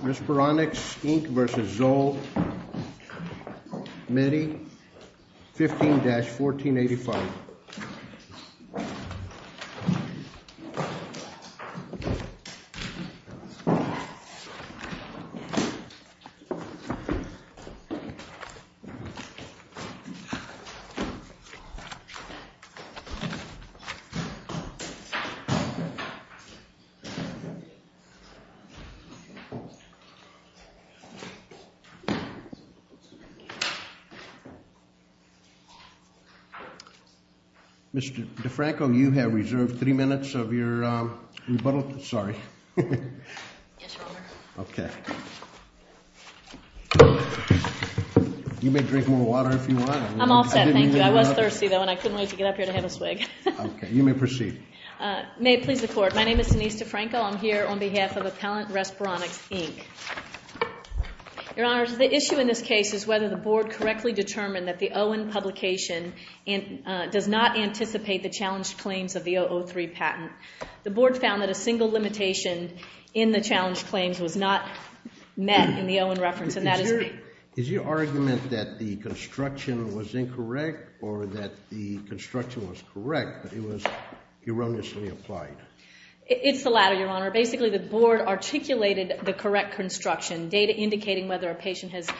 Respironics, Inc. v. Zoll, Medi, 15-1485 Mr. DeFranco, you have reserved three minutes of your rebuttal. Sorry. Yes, Your Honor. Okay. You may drink more water if you want. I'm all set, thank you. I was thirsty, though, and I couldn't wait to get up here to have a swig. Okay. You may proceed. May it please the Court, my name is Denise DeFranco. I'm here on behalf of Appellant Respironics, Inc. Your Honor, the issue in this case is whether the Board correctly determined that the Owen publication does not anticipate the challenged claims of the 003 patent. The Board found that a single limitation in the challenged claims was not met in the Owen reference, and that is the— Is your argument that the construction was incorrect or that the construction was correct, but it was erroneously applied? It's the latter, Your Honor. Basically, the Board articulated the correct construction, data indicating whether a patient has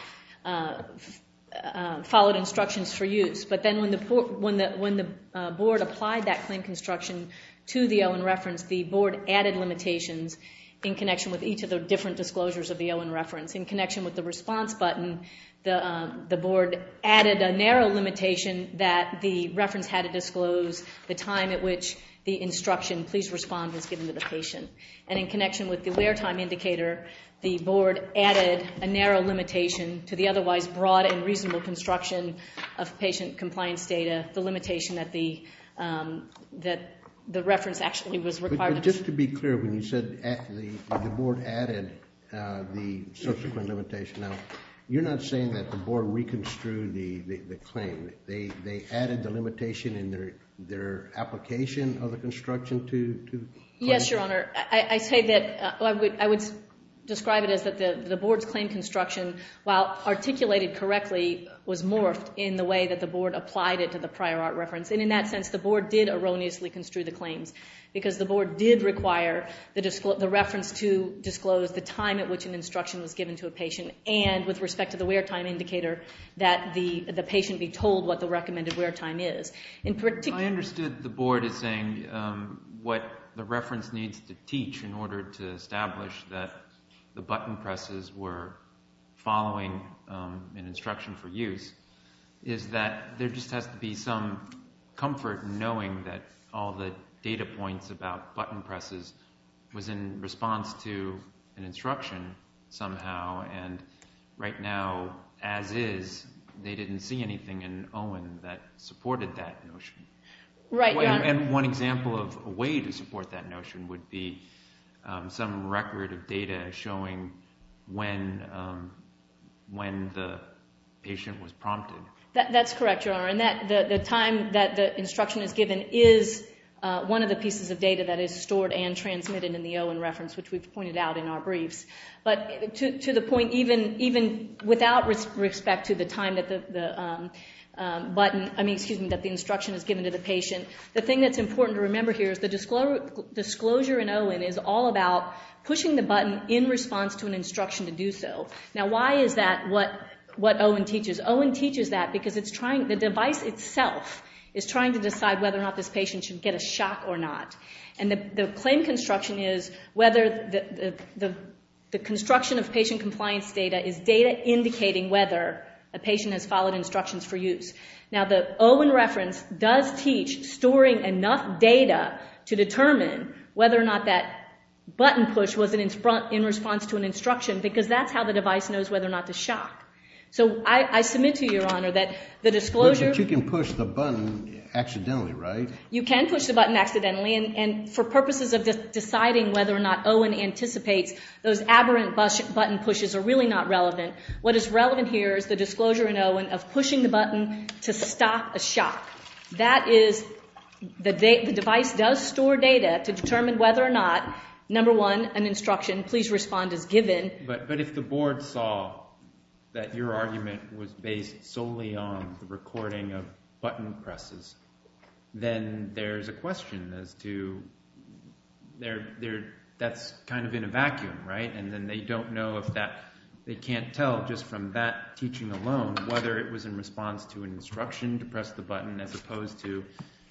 followed instructions for use. But then when the Board applied that claim construction to the Owen reference, the Board added limitations in connection with each of the different disclosures of the Owen reference. In connection with the response button, the Board added a narrow limitation that the reference had to disclose the time at which the instruction, please respond, was given to the patient. And in connection with the wear time indicator, the Board added a narrow limitation to the otherwise broad and reasonable construction of patient compliance data, the limitation that the reference actually was required. But just to be clear, when you said the Board added the subsequent limitation, now you're not saying that the Board reconstrued the claim. They added the limitation in their application of the construction to— Yes, Your Honor. I say that—I would describe it as that the Board's claim construction, while articulated correctly, was morphed in the way that the Board applied it to the prior art reference. And in that sense, the Board did erroneously construe the claims because the Board did require the reference to disclose the time at which an instruction was given to a patient and, with respect to the wear time indicator, that the patient be told what the recommended wear time is. In particular— I understood the Board as saying what the reference needs to teach in order to establish that the button presses were following an instruction for use is that there just has to be some comfort in knowing that all the data points about button presses was in response to an instruction. Right now, as is, they didn't see anything in Owen that supported that notion. Right, Your Honor. And one example of a way to support that notion would be some record of data showing when the patient was prompted. That's correct, Your Honor. And the time that the instruction is given is one of the pieces of data that is stored and transmitted in the Owen reference, which we've pointed out in our briefs. But to the point, even without respect to the time that the instruction is given to the patient, the thing that's important to remember here is the disclosure in Owen is all about pushing the button in response to an instruction to do so. Now, why is that what Owen teaches? Owen teaches that because the device itself is trying to decide whether or not this patient should get a shock or not. And the claim construction is whether the construction of patient compliance data is data indicating whether a patient has followed instructions for use. Now, the Owen reference does teach storing enough data to determine whether or not that button push was in response to an instruction because that's how the device knows whether or not to shock. So I submit to you, Your Honor, that the disclosure... But you can push the button accidentally, right? You can push the button accidentally. And for purposes of deciding whether or not Owen anticipates, those aberrant button pushes are really not relevant. What is relevant here is the disclosure in Owen of pushing the button to stop a shock. That is, the device does store data to determine whether or not, number one, an instruction, please respond, is given. But if the board saw that your argument was based solely on the recording of button presses, then there's a question as to... That's kind of in a vacuum, right? And then they don't know if that... They can't tell just from that teaching alone whether it was in response to an instruction to press the button as opposed to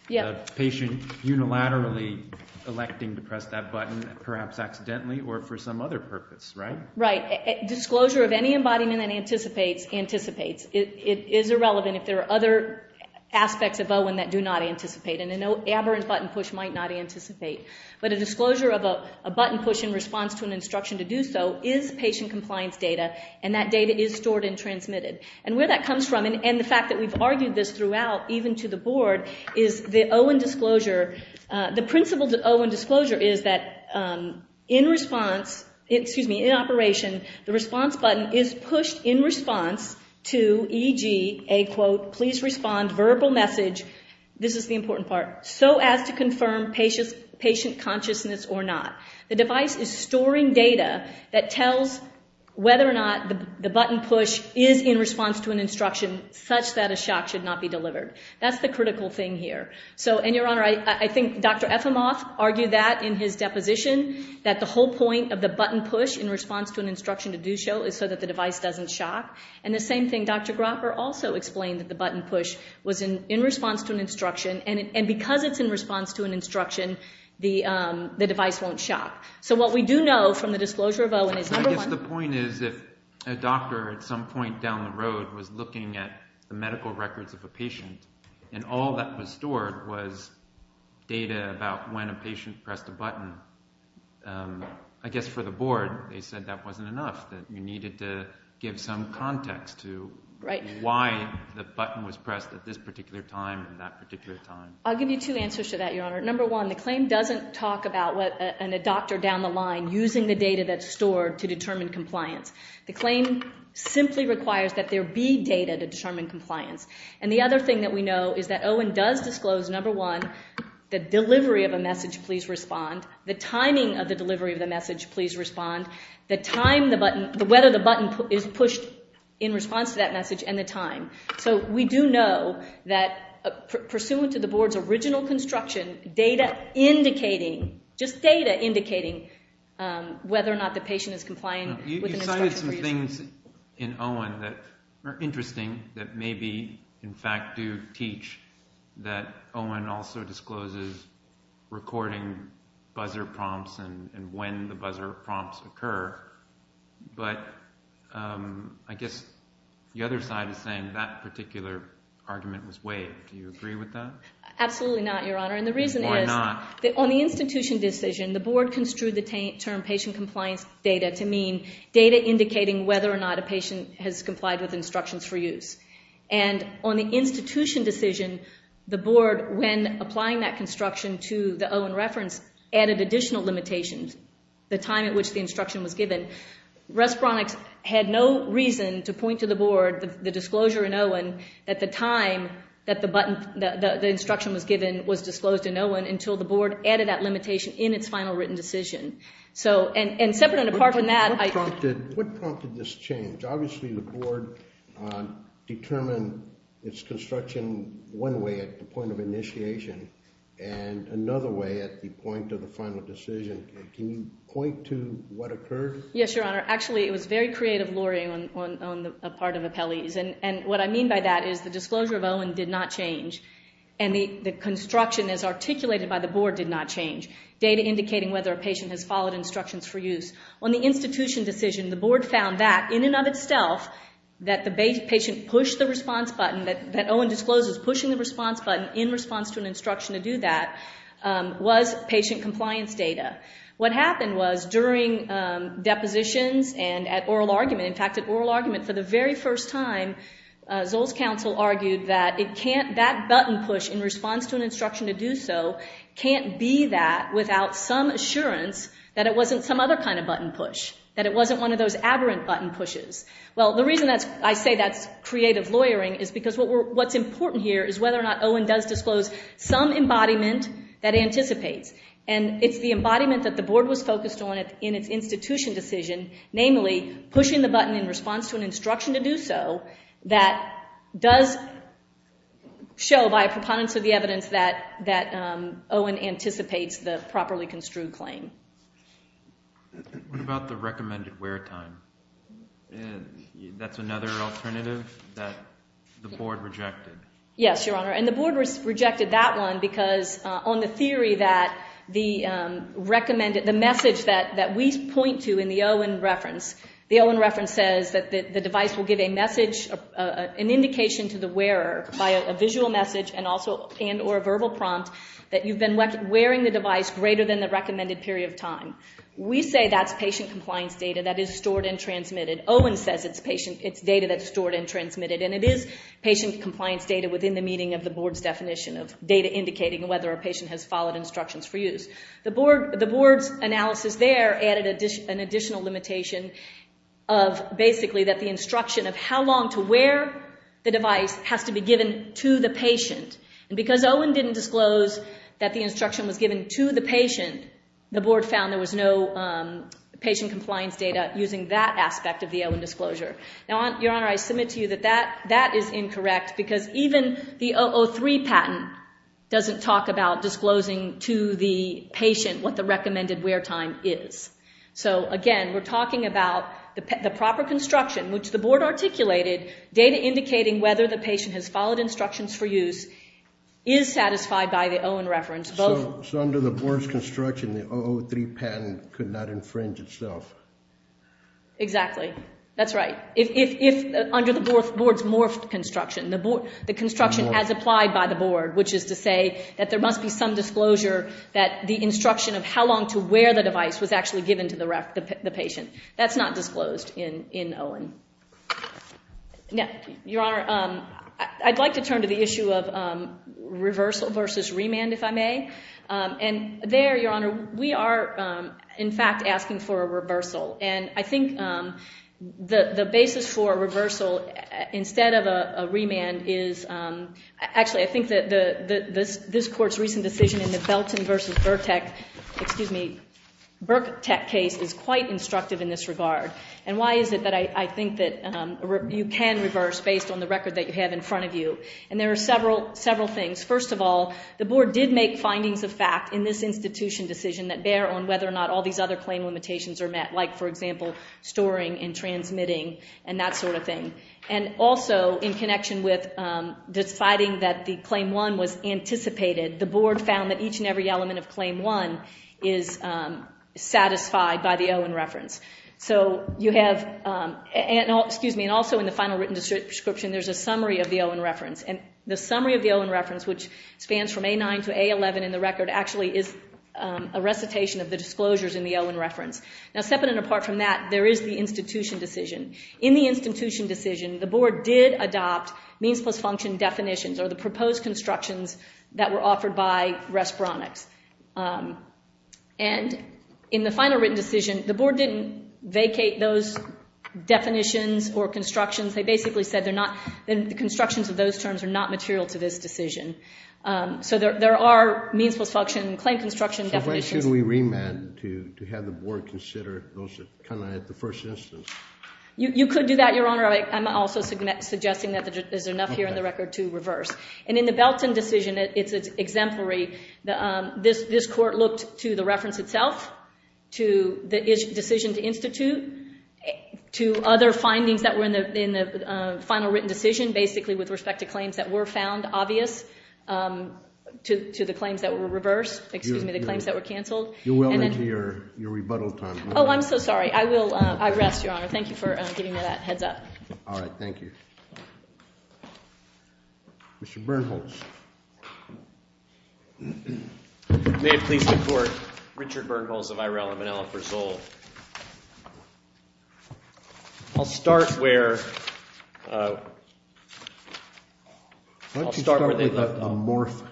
the patient unilaterally electing to press that button, perhaps accidentally or for some other purpose, right? Right. Disclosure of any embodiment that anticipates anticipates. It is irrelevant if there are other aspects of Owen that do not anticipate. And an aberrant button push might not anticipate. But a disclosure of a button push in response to an instruction to do so is patient compliance data, and that data is stored and transmitted. And where that comes from, and the fact that we've argued this throughout, even to the board, is the Owen disclosure... The principle to Owen disclosure is that in response... Please respond. Verbal message. This is the important part. So as to confirm patient consciousness or not. The device is storing data that tells whether or not the button push is in response to an instruction such that a shock should not be delivered. That's the critical thing here. And, Your Honor, I think Dr. Ephimoth argued that in his deposition, that the whole point of the button push in response to an instruction to do so is so that the device doesn't shock. And the same thing, Dr. Gropper also explained that the button push was in response to an instruction, and because it's in response to an instruction, the device won't shock. So what we do know from the disclosure of Owen is, number one... I guess the point is if a doctor at some point down the road was looking at the medical records of a patient and all that was stored was data about when a patient pressed a button, I guess for the board, they said that wasn't enough, that you needed to give some context to why the button was pressed at this particular time and that particular time. I'll give you two answers to that, Your Honor. Number one, the claim doesn't talk about a doctor down the line using the data that's stored to determine compliance. The claim simply requires that there be data to determine compliance. And the other thing that we know is that Owen does disclose, number one, the delivery of a message, please respond, the timing of the delivery of the message, please respond, the weather the button is pushed in response to that message, and the time. So we do know that pursuant to the board's original construction, data indicating, just data indicating whether or not the patient is complying with an instruction. There are some things in Owen that are interesting that maybe, in fact, do teach, that Owen also discloses recording buzzer prompts and when the buzzer prompts occur, but I guess the other side is saying that particular argument was waived. Do you agree with that? Absolutely not, Your Honor, and the reason is on the institution decision, the board construed the term patient compliance data to mean data indicating whether or not a patient has complied with instructions for use. And on the institution decision, the board, when applying that construction to the Owen reference, added additional limitations, the time at which the instruction was given. Respironics had no reason to point to the board, the disclosure in Owen, that the time that the instruction was given was disclosed in Owen until the board added that limitation in its final written decision. So, and separate and apart from that- What prompted this change? Obviously the board determined its construction one way at the point of initiation and another way at the point of the final decision. Can you point to what occurred? Yes, Your Honor. Actually, it was very creative luring on the part of appellees, and what I mean by that is the disclosure of Owen did not change, and the construction as articulated by the board did not change, data indicating whether a patient has followed instructions for use. On the institution decision, the board found that, in and of itself, that the patient pushed the response button, that Owen disclosed was pushing the response button in response to an instruction to do that, was patient compliance data. What happened was during depositions and at oral argument, in fact, at oral argument, for the very first time, Zoll's counsel argued that that button push in response to an instruction to do so can't be that without some assurance that it wasn't some other kind of button push, that it wasn't one of those aberrant button pushes. Well, the reason I say that's creative luring is because what's important here is whether or not Owen does disclose some embodiment that anticipates, and it's the embodiment that the board was focused on in its institution decision, namely pushing the button in response to an instruction to do so, that does show by a preponderance of the evidence that Owen anticipates the properly construed claim. What about the recommended wear time? That's another alternative that the board rejected. Yes, Your Honor, and the board rejected that one because on the theory that the recommended, the message that we point to in the Owen reference, the Owen reference says that the device will give a message, an indication to the wearer by a visual message and or a verbal prompt that you've been wearing the device greater than the recommended period of time. We say that's patient compliance data that is stored and transmitted. Owen says it's data that's stored and transmitted, and it is patient compliance data within the meaning of the board's definition of data indicating whether a patient has followed instructions for use. The board's analysis there added an additional limitation of basically that the instruction of how long to wear the device has to be given to the patient. And because Owen didn't disclose that the instruction was given to the patient, the board found there was no patient compliance data using that aspect of the Owen disclosure. Now, Your Honor, I submit to you that that is incorrect because even the 003 patent doesn't talk about disclosing to the patient what the recommended wear time is. So, again, we're talking about the proper construction, which the board articulated, data indicating whether the patient has followed instructions for use is satisfied by the Owen reference. So under the board's construction, the 003 patent could not infringe itself? Exactly. That's right. If under the board's morphed construction, the construction as applied by the board, which is to say that there must be some disclosure that the instruction of how long to wear the device was actually given to the patient. That's not disclosed in Owen. Now, Your Honor, I'd like to turn to the issue of reversal versus remand, if I may. And there, Your Honor, we are, in fact, asking for a reversal. And I think the basis for a reversal instead of a remand is, actually, I think that this Court's recent decision in the Belton versus Burkett case is quite instructive in this regard. And why is it that I think that you can reverse based on the record that you have in front of you? And there are several things. First of all, the board did make findings of fact in this institution decision that bear on whether or not all these other claim limitations are met, like, for example, storing and transmitting and that sort of thing. And also, in connection with deciding that the Claim 1 was anticipated, the board found that each and every element of Claim 1 is satisfied by the Owen reference. So you have, and also in the final written description, there's a summary of the Owen reference. And the summary of the Owen reference, which spans from A9 to A11 in the record, actually is a recitation of the disclosures in the Owen reference. Now, separate and apart from that, there is the institution decision. In the institution decision, the board did adopt means plus function definitions, or the proposed constructions that were offered by Respironics. And in the final written decision, the board didn't vacate those definitions or constructions. They basically said the constructions of those terms are not material to this decision. So there are means plus function and claim construction definitions. So why shouldn't we remand to have the board consider those that come in at the first instance? You could do that, Your Honor. I'm also suggesting that there's enough here in the record to reverse. And in the Belton decision, it's exemplary. This court looked to the reference itself, to the decision to institute, to other findings that were in the final written decision, basically with respect to claims that were found obvious, to the claims that were reversed, excuse me, the claims that were canceled. You're well into your rebuttal time. Oh, I'm so sorry. I rest, Your Honor. Thank you for giving me that heads up. All right. Thank you. Mr. Bernholz. May it please the court. Richard Bernholz of Ireland, Manila for Zoll. I'll start where they left off. Why don't you start with the morph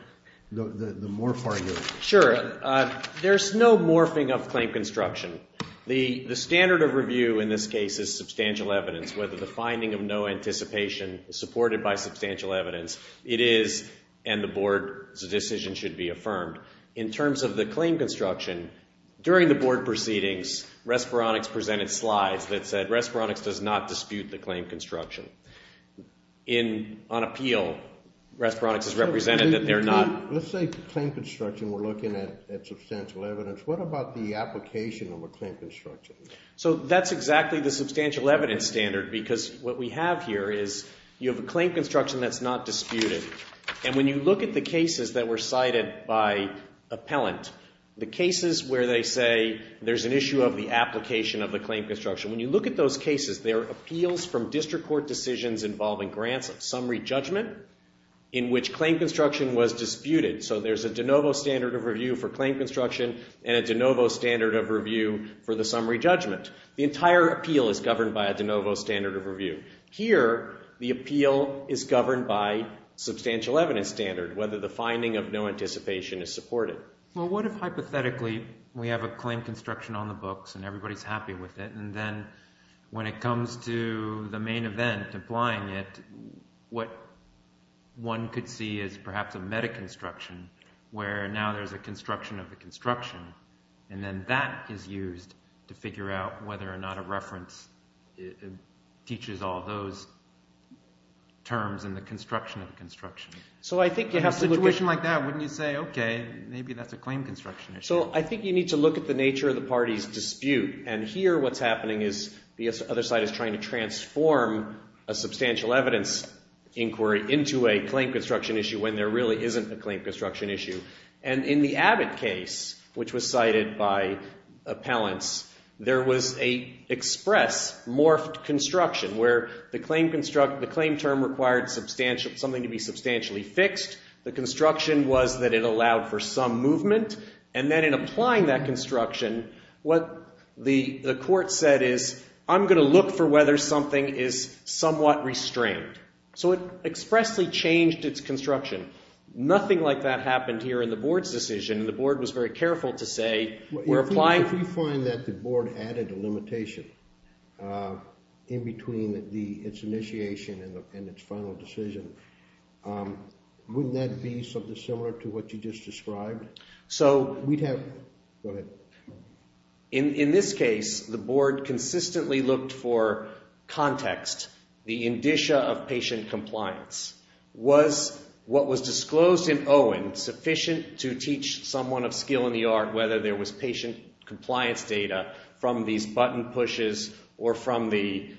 argument? Sure. There's no morphing of claim construction. The standard of review in this case is substantial evidence, whether the finding of no anticipation is supported by substantial evidence. It is, and the board's decision should be affirmed. In terms of the claim construction, during the board proceedings, Respironix presented slides that said Respironix does not dispute the claim construction. On appeal, Respironix has represented that they're not. Let's say claim construction, we're looking at substantial evidence. What about the application of a claim construction? So that's exactly the substantial evidence standard, because what we have here is you have a claim construction that's not disputed. And when you look at the cases that were cited by appellant, the cases where they say there's an issue of the application of the claim construction, when you look at those cases, there are appeals from district court decisions involving grants of summary judgment in which claim construction was disputed. So there's a de novo standard of review for claim construction and a de novo standard of review for the summary judgment. The entire appeal is governed by a de novo standard of review. Here, the appeal is governed by substantial evidence standard, whether the finding of no anticipation is supported. Well, what if hypothetically we have a claim construction on the books and everybody's happy with it, and then when it comes to the main event, applying it, what one could see is perhaps a metaconstruction, where now there's a construction of the construction, and then that is used to figure out whether or not a reference teaches all those terms in the construction of the construction. So I think you have a situation like that, wouldn't you say, okay, maybe that's a claim construction issue. So I think you need to look at the nature of the party's dispute. And here what's happening is the other side is trying to transform a substantial evidence inquiry into a claim construction issue when there really isn't a claim construction issue. And in the Abbott case, which was cited by appellants, there was a express morphed construction where the claim term required something to be substantially fixed. The construction was that it allowed for some movement. And then in applying that construction, what the court said is I'm going to look for whether something is somewhat restrained. So it expressly changed its construction. Nothing like that happened here in the board's decision. The board was very careful to say we're applying. If you find that the board added a limitation in between its initiation and its final decision, wouldn't that be something similar to what you just described? So we'd have. Go ahead. In this case, the board consistently looked for context. The indicia of patient compliance was what was disclosed in Owen sufficient to teach someone of skill in the art whether there was patient compliance data from these button pushes or from the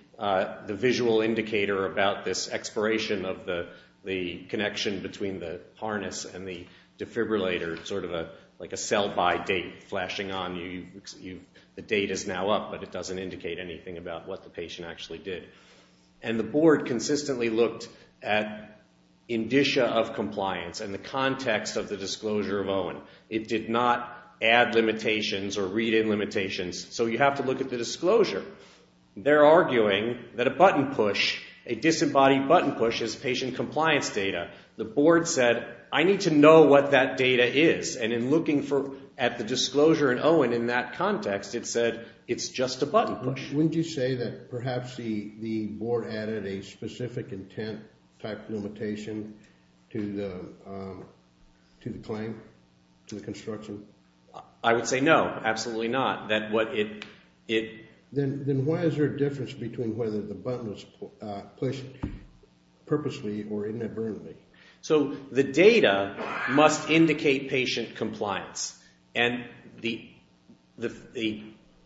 visual indicator about this expiration of the connection between the harness and the defibrillator, sort of like a sell-by date flashing on you. The date is now up, but it doesn't indicate anything about what the patient actually did. And the board consistently looked at indicia of compliance and the context of the disclosure of Owen. It did not add limitations or read in limitations. So you have to look at the disclosure. They're arguing that a button push, a disembodied button push is patient compliance data. The board said I need to know what that data is. And in looking at the disclosure in Owen in that context, it said it's just a button push. Wouldn't you say that perhaps the board added a specific intent type limitation to the claim, to the construction? I would say no, absolutely not. Then why is there a difference between whether the button was pushed purposely or inadvertently? So the data must indicate patient compliance. And the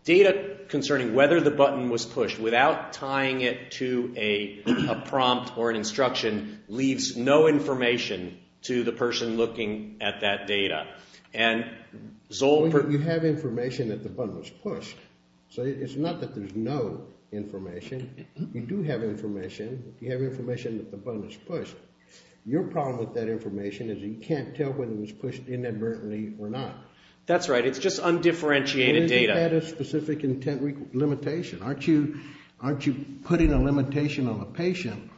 data concerning whether the button was pushed without tying it to a prompt or an instruction leaves no information to the person looking at that data. You have information that the button was pushed. So it's not that there's no information. You do have information. You have information that the button was pushed. Your problem with that information is you can't tell whether it was pushed inadvertently or not. That's right. It's just undifferentiated data. Isn't that a specific intent limitation? Aren't you putting a limitation on the patient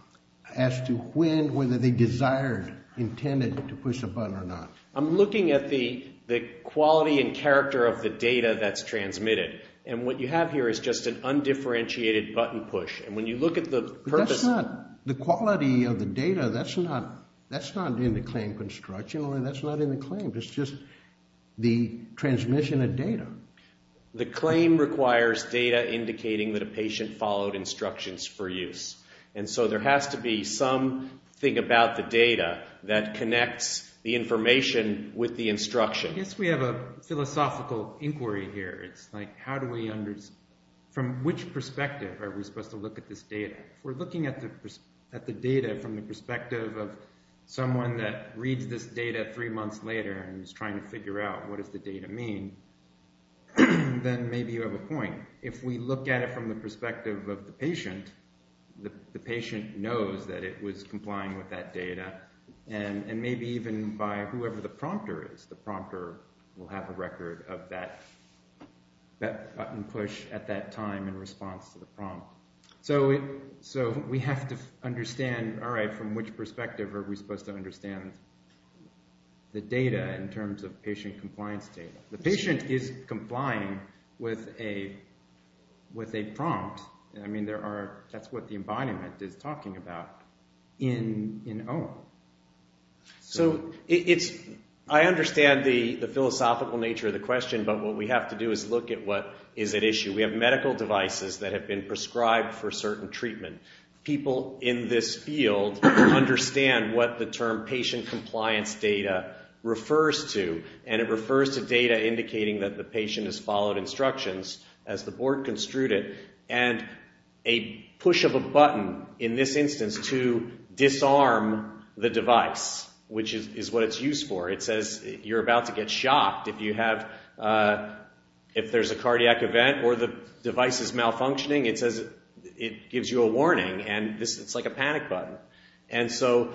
as to when, whether they desired, intended to push a button or not? I'm looking at the quality and character of the data that's transmitted. And what you have here is just an undifferentiated button push. And when you look at the purpose of it. That's not the quality of the data. That's not in the claim construction. That's not in the claim. It's just the transmission of data. The claim requires data indicating that a patient followed instructions for use. And so there has to be something about the data that connects the information with the instruction. I guess we have a philosophical inquiry here. It's like how do we understand, from which perspective are we supposed to look at this data? If we're looking at the data from the perspective of someone that reads this data three months later and is trying to figure out what does the data mean, then maybe you have a point. If we look at it from the perspective of the patient, the patient knows that it was complying with that data, and maybe even by whoever the prompter is. The prompter will have a record of that button push at that time in response to the prompt. So we have to understand, all right, from which perspective are we supposed to understand the data in terms of patient compliance data? The patient is complying with a prompt. I mean, that's what the embodiment is talking about in OAM. So I understand the philosophical nature of the question, but what we have to do is look at what is at issue. We have medical devices that have been prescribed for certain treatment. People in this field understand what the term patient compliance data refers to, and it refers to data indicating that the patient has followed instructions as the board construed it, and a push of a button in this instance to disarm the device, which is what it's used for. It says you're about to get shocked if there's a cardiac event or the device is malfunctioning. It gives you a warning, and it's like a panic button. And so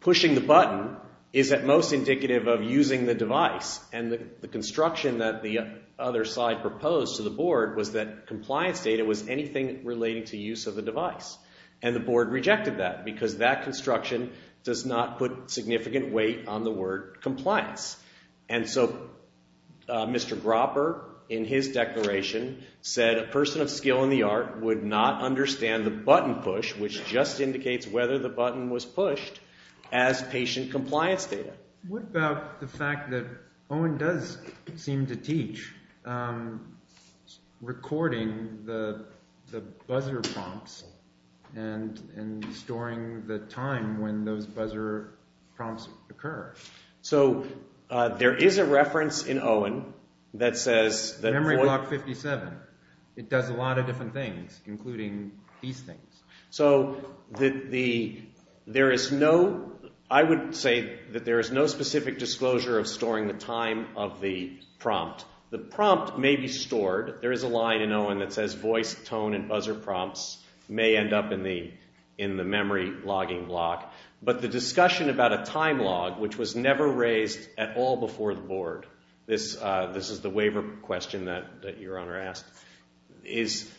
pushing the button is at most indicative of using the device, and the construction that the other side proposed to the board was that compliance data was anything relating to use of the device, and the board rejected that because that construction does not put significant weight on the word compliance. And so Mr. Gropper, in his declaration, said a person of skill in the art would not understand the button push, which just indicates whether the button was pushed, as patient compliance data. What about the fact that Owen does seem to teach recording the buzzer prompts and storing the time when those buzzer prompts occur? So there is a reference in Owen that says... Memory block 57. It does a lot of different things, including these things. So there is no... I would say that there is no specific disclosure of storing the time of the prompt. The prompt may be stored. There is a line in Owen that says voice, tone, and buzzer prompts may end up in the memory logging block. But the discussion about a time log, which was never raised at all before the board, this is the waiver question that your Honor asked, is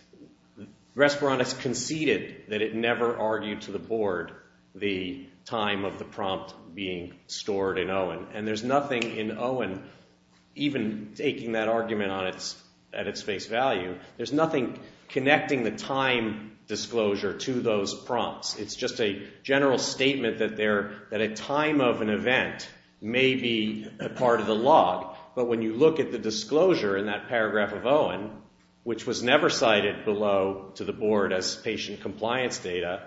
Resperon has conceded that it never argued to the board the time of the prompt being stored in Owen. And there is nothing in Owen, even taking that argument at its face value, there is nothing connecting the time disclosure to those prompts. It's just a general statement that a time of an event may be part of the log. But when you look at the disclosure in that paragraph of Owen, which was never cited below to the board as patient compliance data,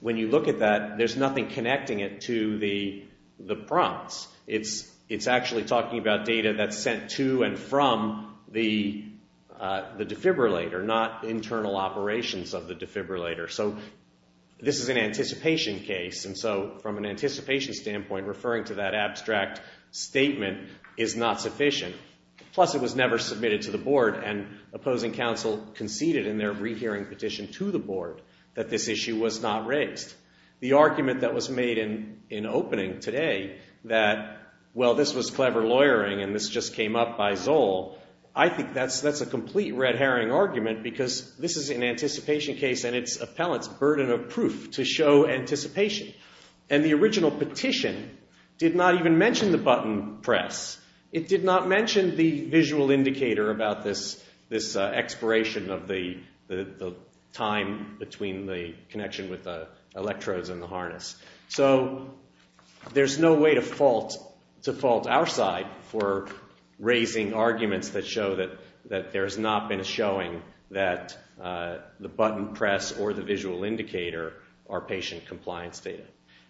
when you look at that, there is nothing connecting it to the prompts. It's actually talking about data that's sent to and from the defibrillator, not internal operations of the defibrillator. So this is an anticipation case. And so from an anticipation standpoint, referring to that abstract statement is not sufficient. Plus it was never submitted to the board, and opposing counsel conceded in their rehearing petition to the board that this issue was not raised. The argument that was made in opening today that, well, this was clever lawyering and this just came up by Zoll, I think that's a complete red herring argument because this is an anticipation case and it's appellant's burden of proof to show anticipation. And the original petition did not even mention the button press. It did not mention the visual indicator about this expiration of the time between the connection with the electrodes and the harness. So there's no way to fault our side for raising arguments that show that there has not been a showing that the button press or the visual indicator are patient compliance data.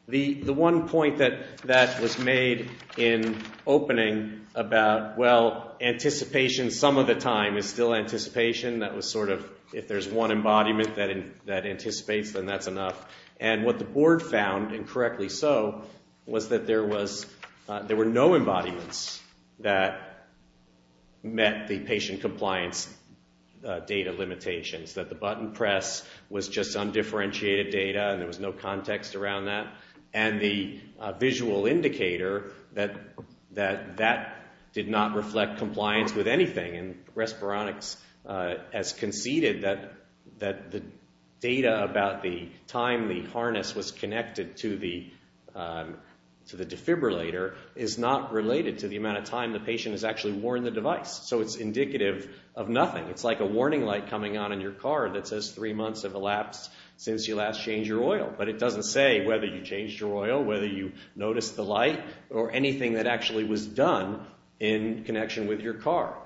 The one point that was made in opening about, well, anticipation some of the time is still anticipation. That was sort of if there's one embodiment that anticipates, then that's enough. And what the board found, and correctly so, was that there were no embodiments that met the patient compliance data limitations, that the button press was just undifferentiated data and there was no context around that, and the visual indicator that that did not reflect compliance with anything. And Respironix has conceded that the data about the time the harness was connected to the defibrillator is not related to the amount of time the patient has actually worn the device. So it's indicative of nothing. It's like a warning light coming on in your car that says three months have elapsed since you last changed your oil. But it doesn't say whether you changed your oil, whether you noticed the light, or anything that actually was done in connection with your car.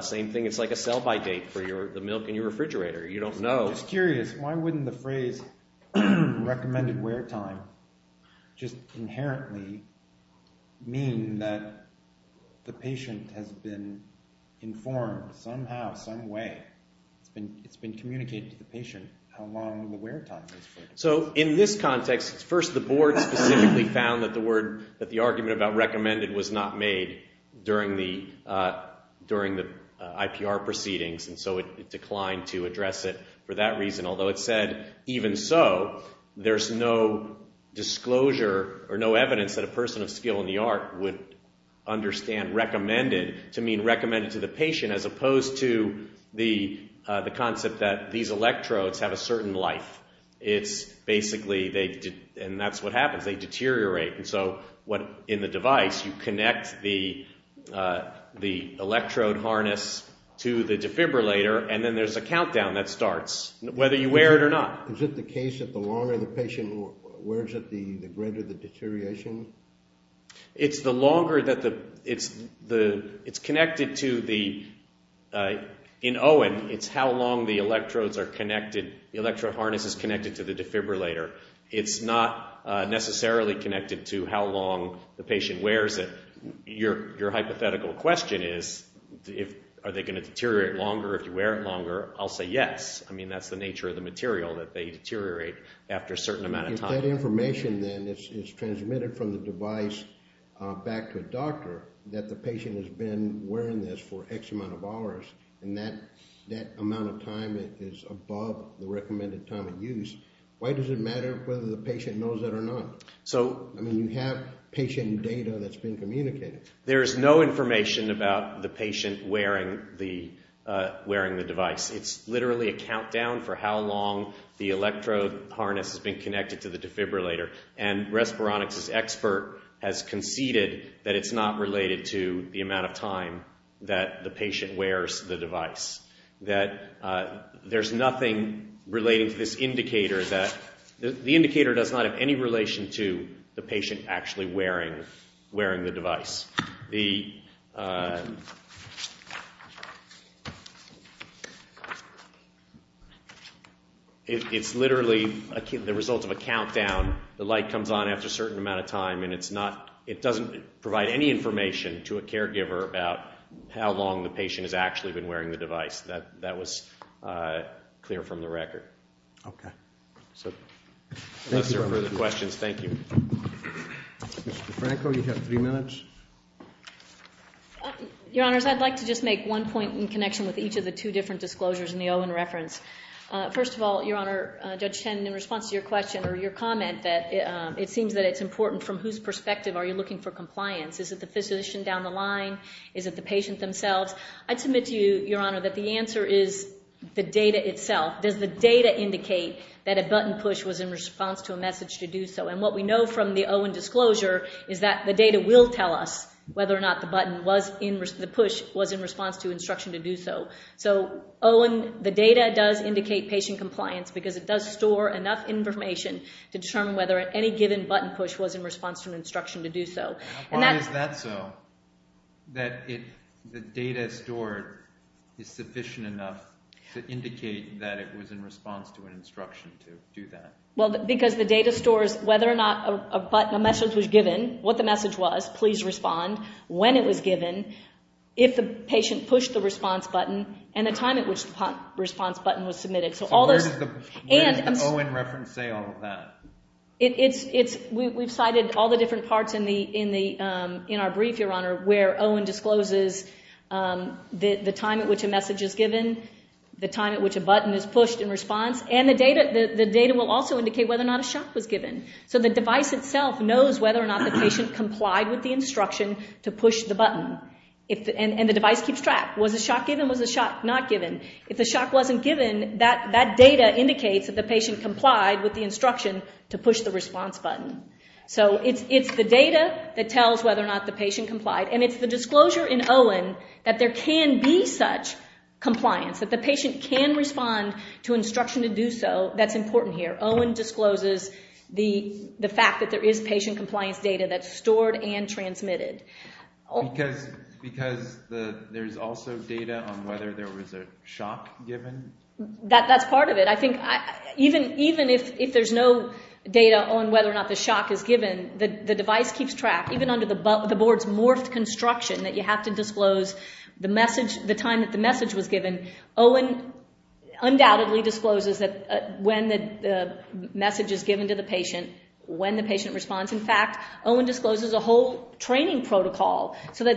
Same thing, it's like a sell-by date for the milk in your refrigerator. You don't know. I was curious, why wouldn't the phrase recommended wear time just inherently mean that the patient has been informed somehow, some way, it's been communicated to the patient how long the wear time is for? So in this context, first the board specifically found that the word, that the argument about recommended was not made during the IPR proceedings, and so it declined to address it for that reason. Although it said, even so, there's no disclosure or no evidence that a person of skill in the art would understand recommended to mean recommended to the patient, as opposed to the concept that these electrodes have a certain life. It's basically, and that's what happens, they deteriorate. In the device, you connect the electrode harness to the defibrillator, and then there's a countdown that starts, whether you wear it or not. Is it the case that the longer the patient wears it, the greater the deterioration? It's the longer that the, it's connected to the, in Owen, it's how long the electrodes are connected, the electrode harness is connected to the defibrillator. It's not necessarily connected to how long the patient wears it. Your hypothetical question is, are they going to deteriorate longer if you wear it longer? I'll say yes. I mean, that's the nature of the material, that they deteriorate after a certain amount of time. If that information then is transmitted from the device back to a doctor, that the patient has been wearing this for X amount of hours, and that amount of time is above the recommended time of use, why does it matter whether the patient knows it or not? I mean, you have patient data that's been communicated. There is no information about the patient wearing the device. It's literally a countdown for how long the electrode harness has been connected to the defibrillator, and Respironix's expert has conceded that it's not related to the amount of time that the patient wears the device. There's nothing relating to this indicator. The indicator does not have any relation to the patient actually wearing the device. It's literally the result of a countdown. The light comes on after a certain amount of time, and it doesn't provide any information to a caregiver about how long the patient has actually been wearing the device. That was clear from the record. Okay. Unless there are further questions, thank you. Mr. Franco, you have three minutes. Your Honors, I'd like to just make one point in connection with each of the two different disclosures in the Owen reference. First of all, Your Honor, Judge Tannen, in response to your question or your comment that it seems that it's important from whose perspective are you looking for compliance? Is it the physician down the line? Is it the patient themselves? I'd submit to you, Your Honor, that the answer is the data itself. Does the data indicate that a button push was in response to a message to do so? And what we know from the Owen disclosure is that the data will tell us whether or not the push was in response to instruction to do so. So, Owen, the data does indicate patient compliance because it does store enough information to determine whether any given button push was in response to an instruction to do so. Why is that so, that the data stored is sufficient enough to indicate that it was in response to an instruction to do that? Well, because the data stores whether or not a message was given, what the message was, please respond, when it was given, if the patient pushed the response button, and the time at which the response button was submitted. So where does the Owen reference say all of that? We've cited all the different parts in our brief, Your Honor, where Owen discloses the time at which a message is given, the time at which a button is pushed in response, and the data will also indicate whether or not a shock was given. So the device itself knows whether or not the patient complied with the instruction to push the button, and the device keeps track. Was the shock given? Was the shock not given? If the shock wasn't given, that data indicates that the patient complied with the instruction to push the response button. So it's the data that tells whether or not the patient complied, and it's the disclosure in Owen that there can be such compliance, that the patient can respond to instruction to do so, that's important here. Owen discloses the fact that there is patient compliance data that's stored and transmitted. Because there's also data on whether there was a shock given? That's part of it. I think even if there's no data on whether or not the shock is given, the device keeps track, even under the board's morphed construction that you have to disclose the time that the message was given. Owen undoubtedly discloses when the message is given to the patient, when the patient responds. In fact, Owen discloses a whole training protocol So we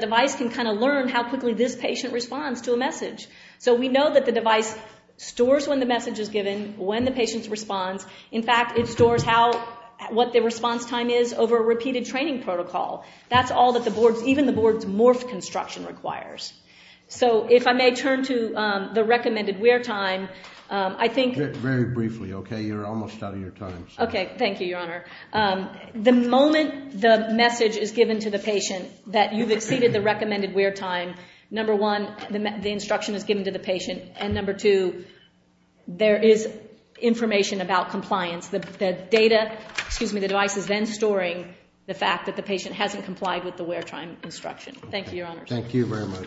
know that the device stores when the message is given, when the patient responds. In fact, it stores what the response time is over a repeated training protocol. That's all that even the board's morphed construction requires. So if I may turn to the recommended wear time. Very briefly, okay? You're almost out of your time. Okay, thank you, Your Honor. The moment the message is given to the patient that you've exceeded the recommended wear time, number one, the instruction is given to the patient, and number two, there is information about compliance. The device is then storing the fact that the patient hasn't complied with the wear time instruction. Thank you, Your Honor. Thank you very much.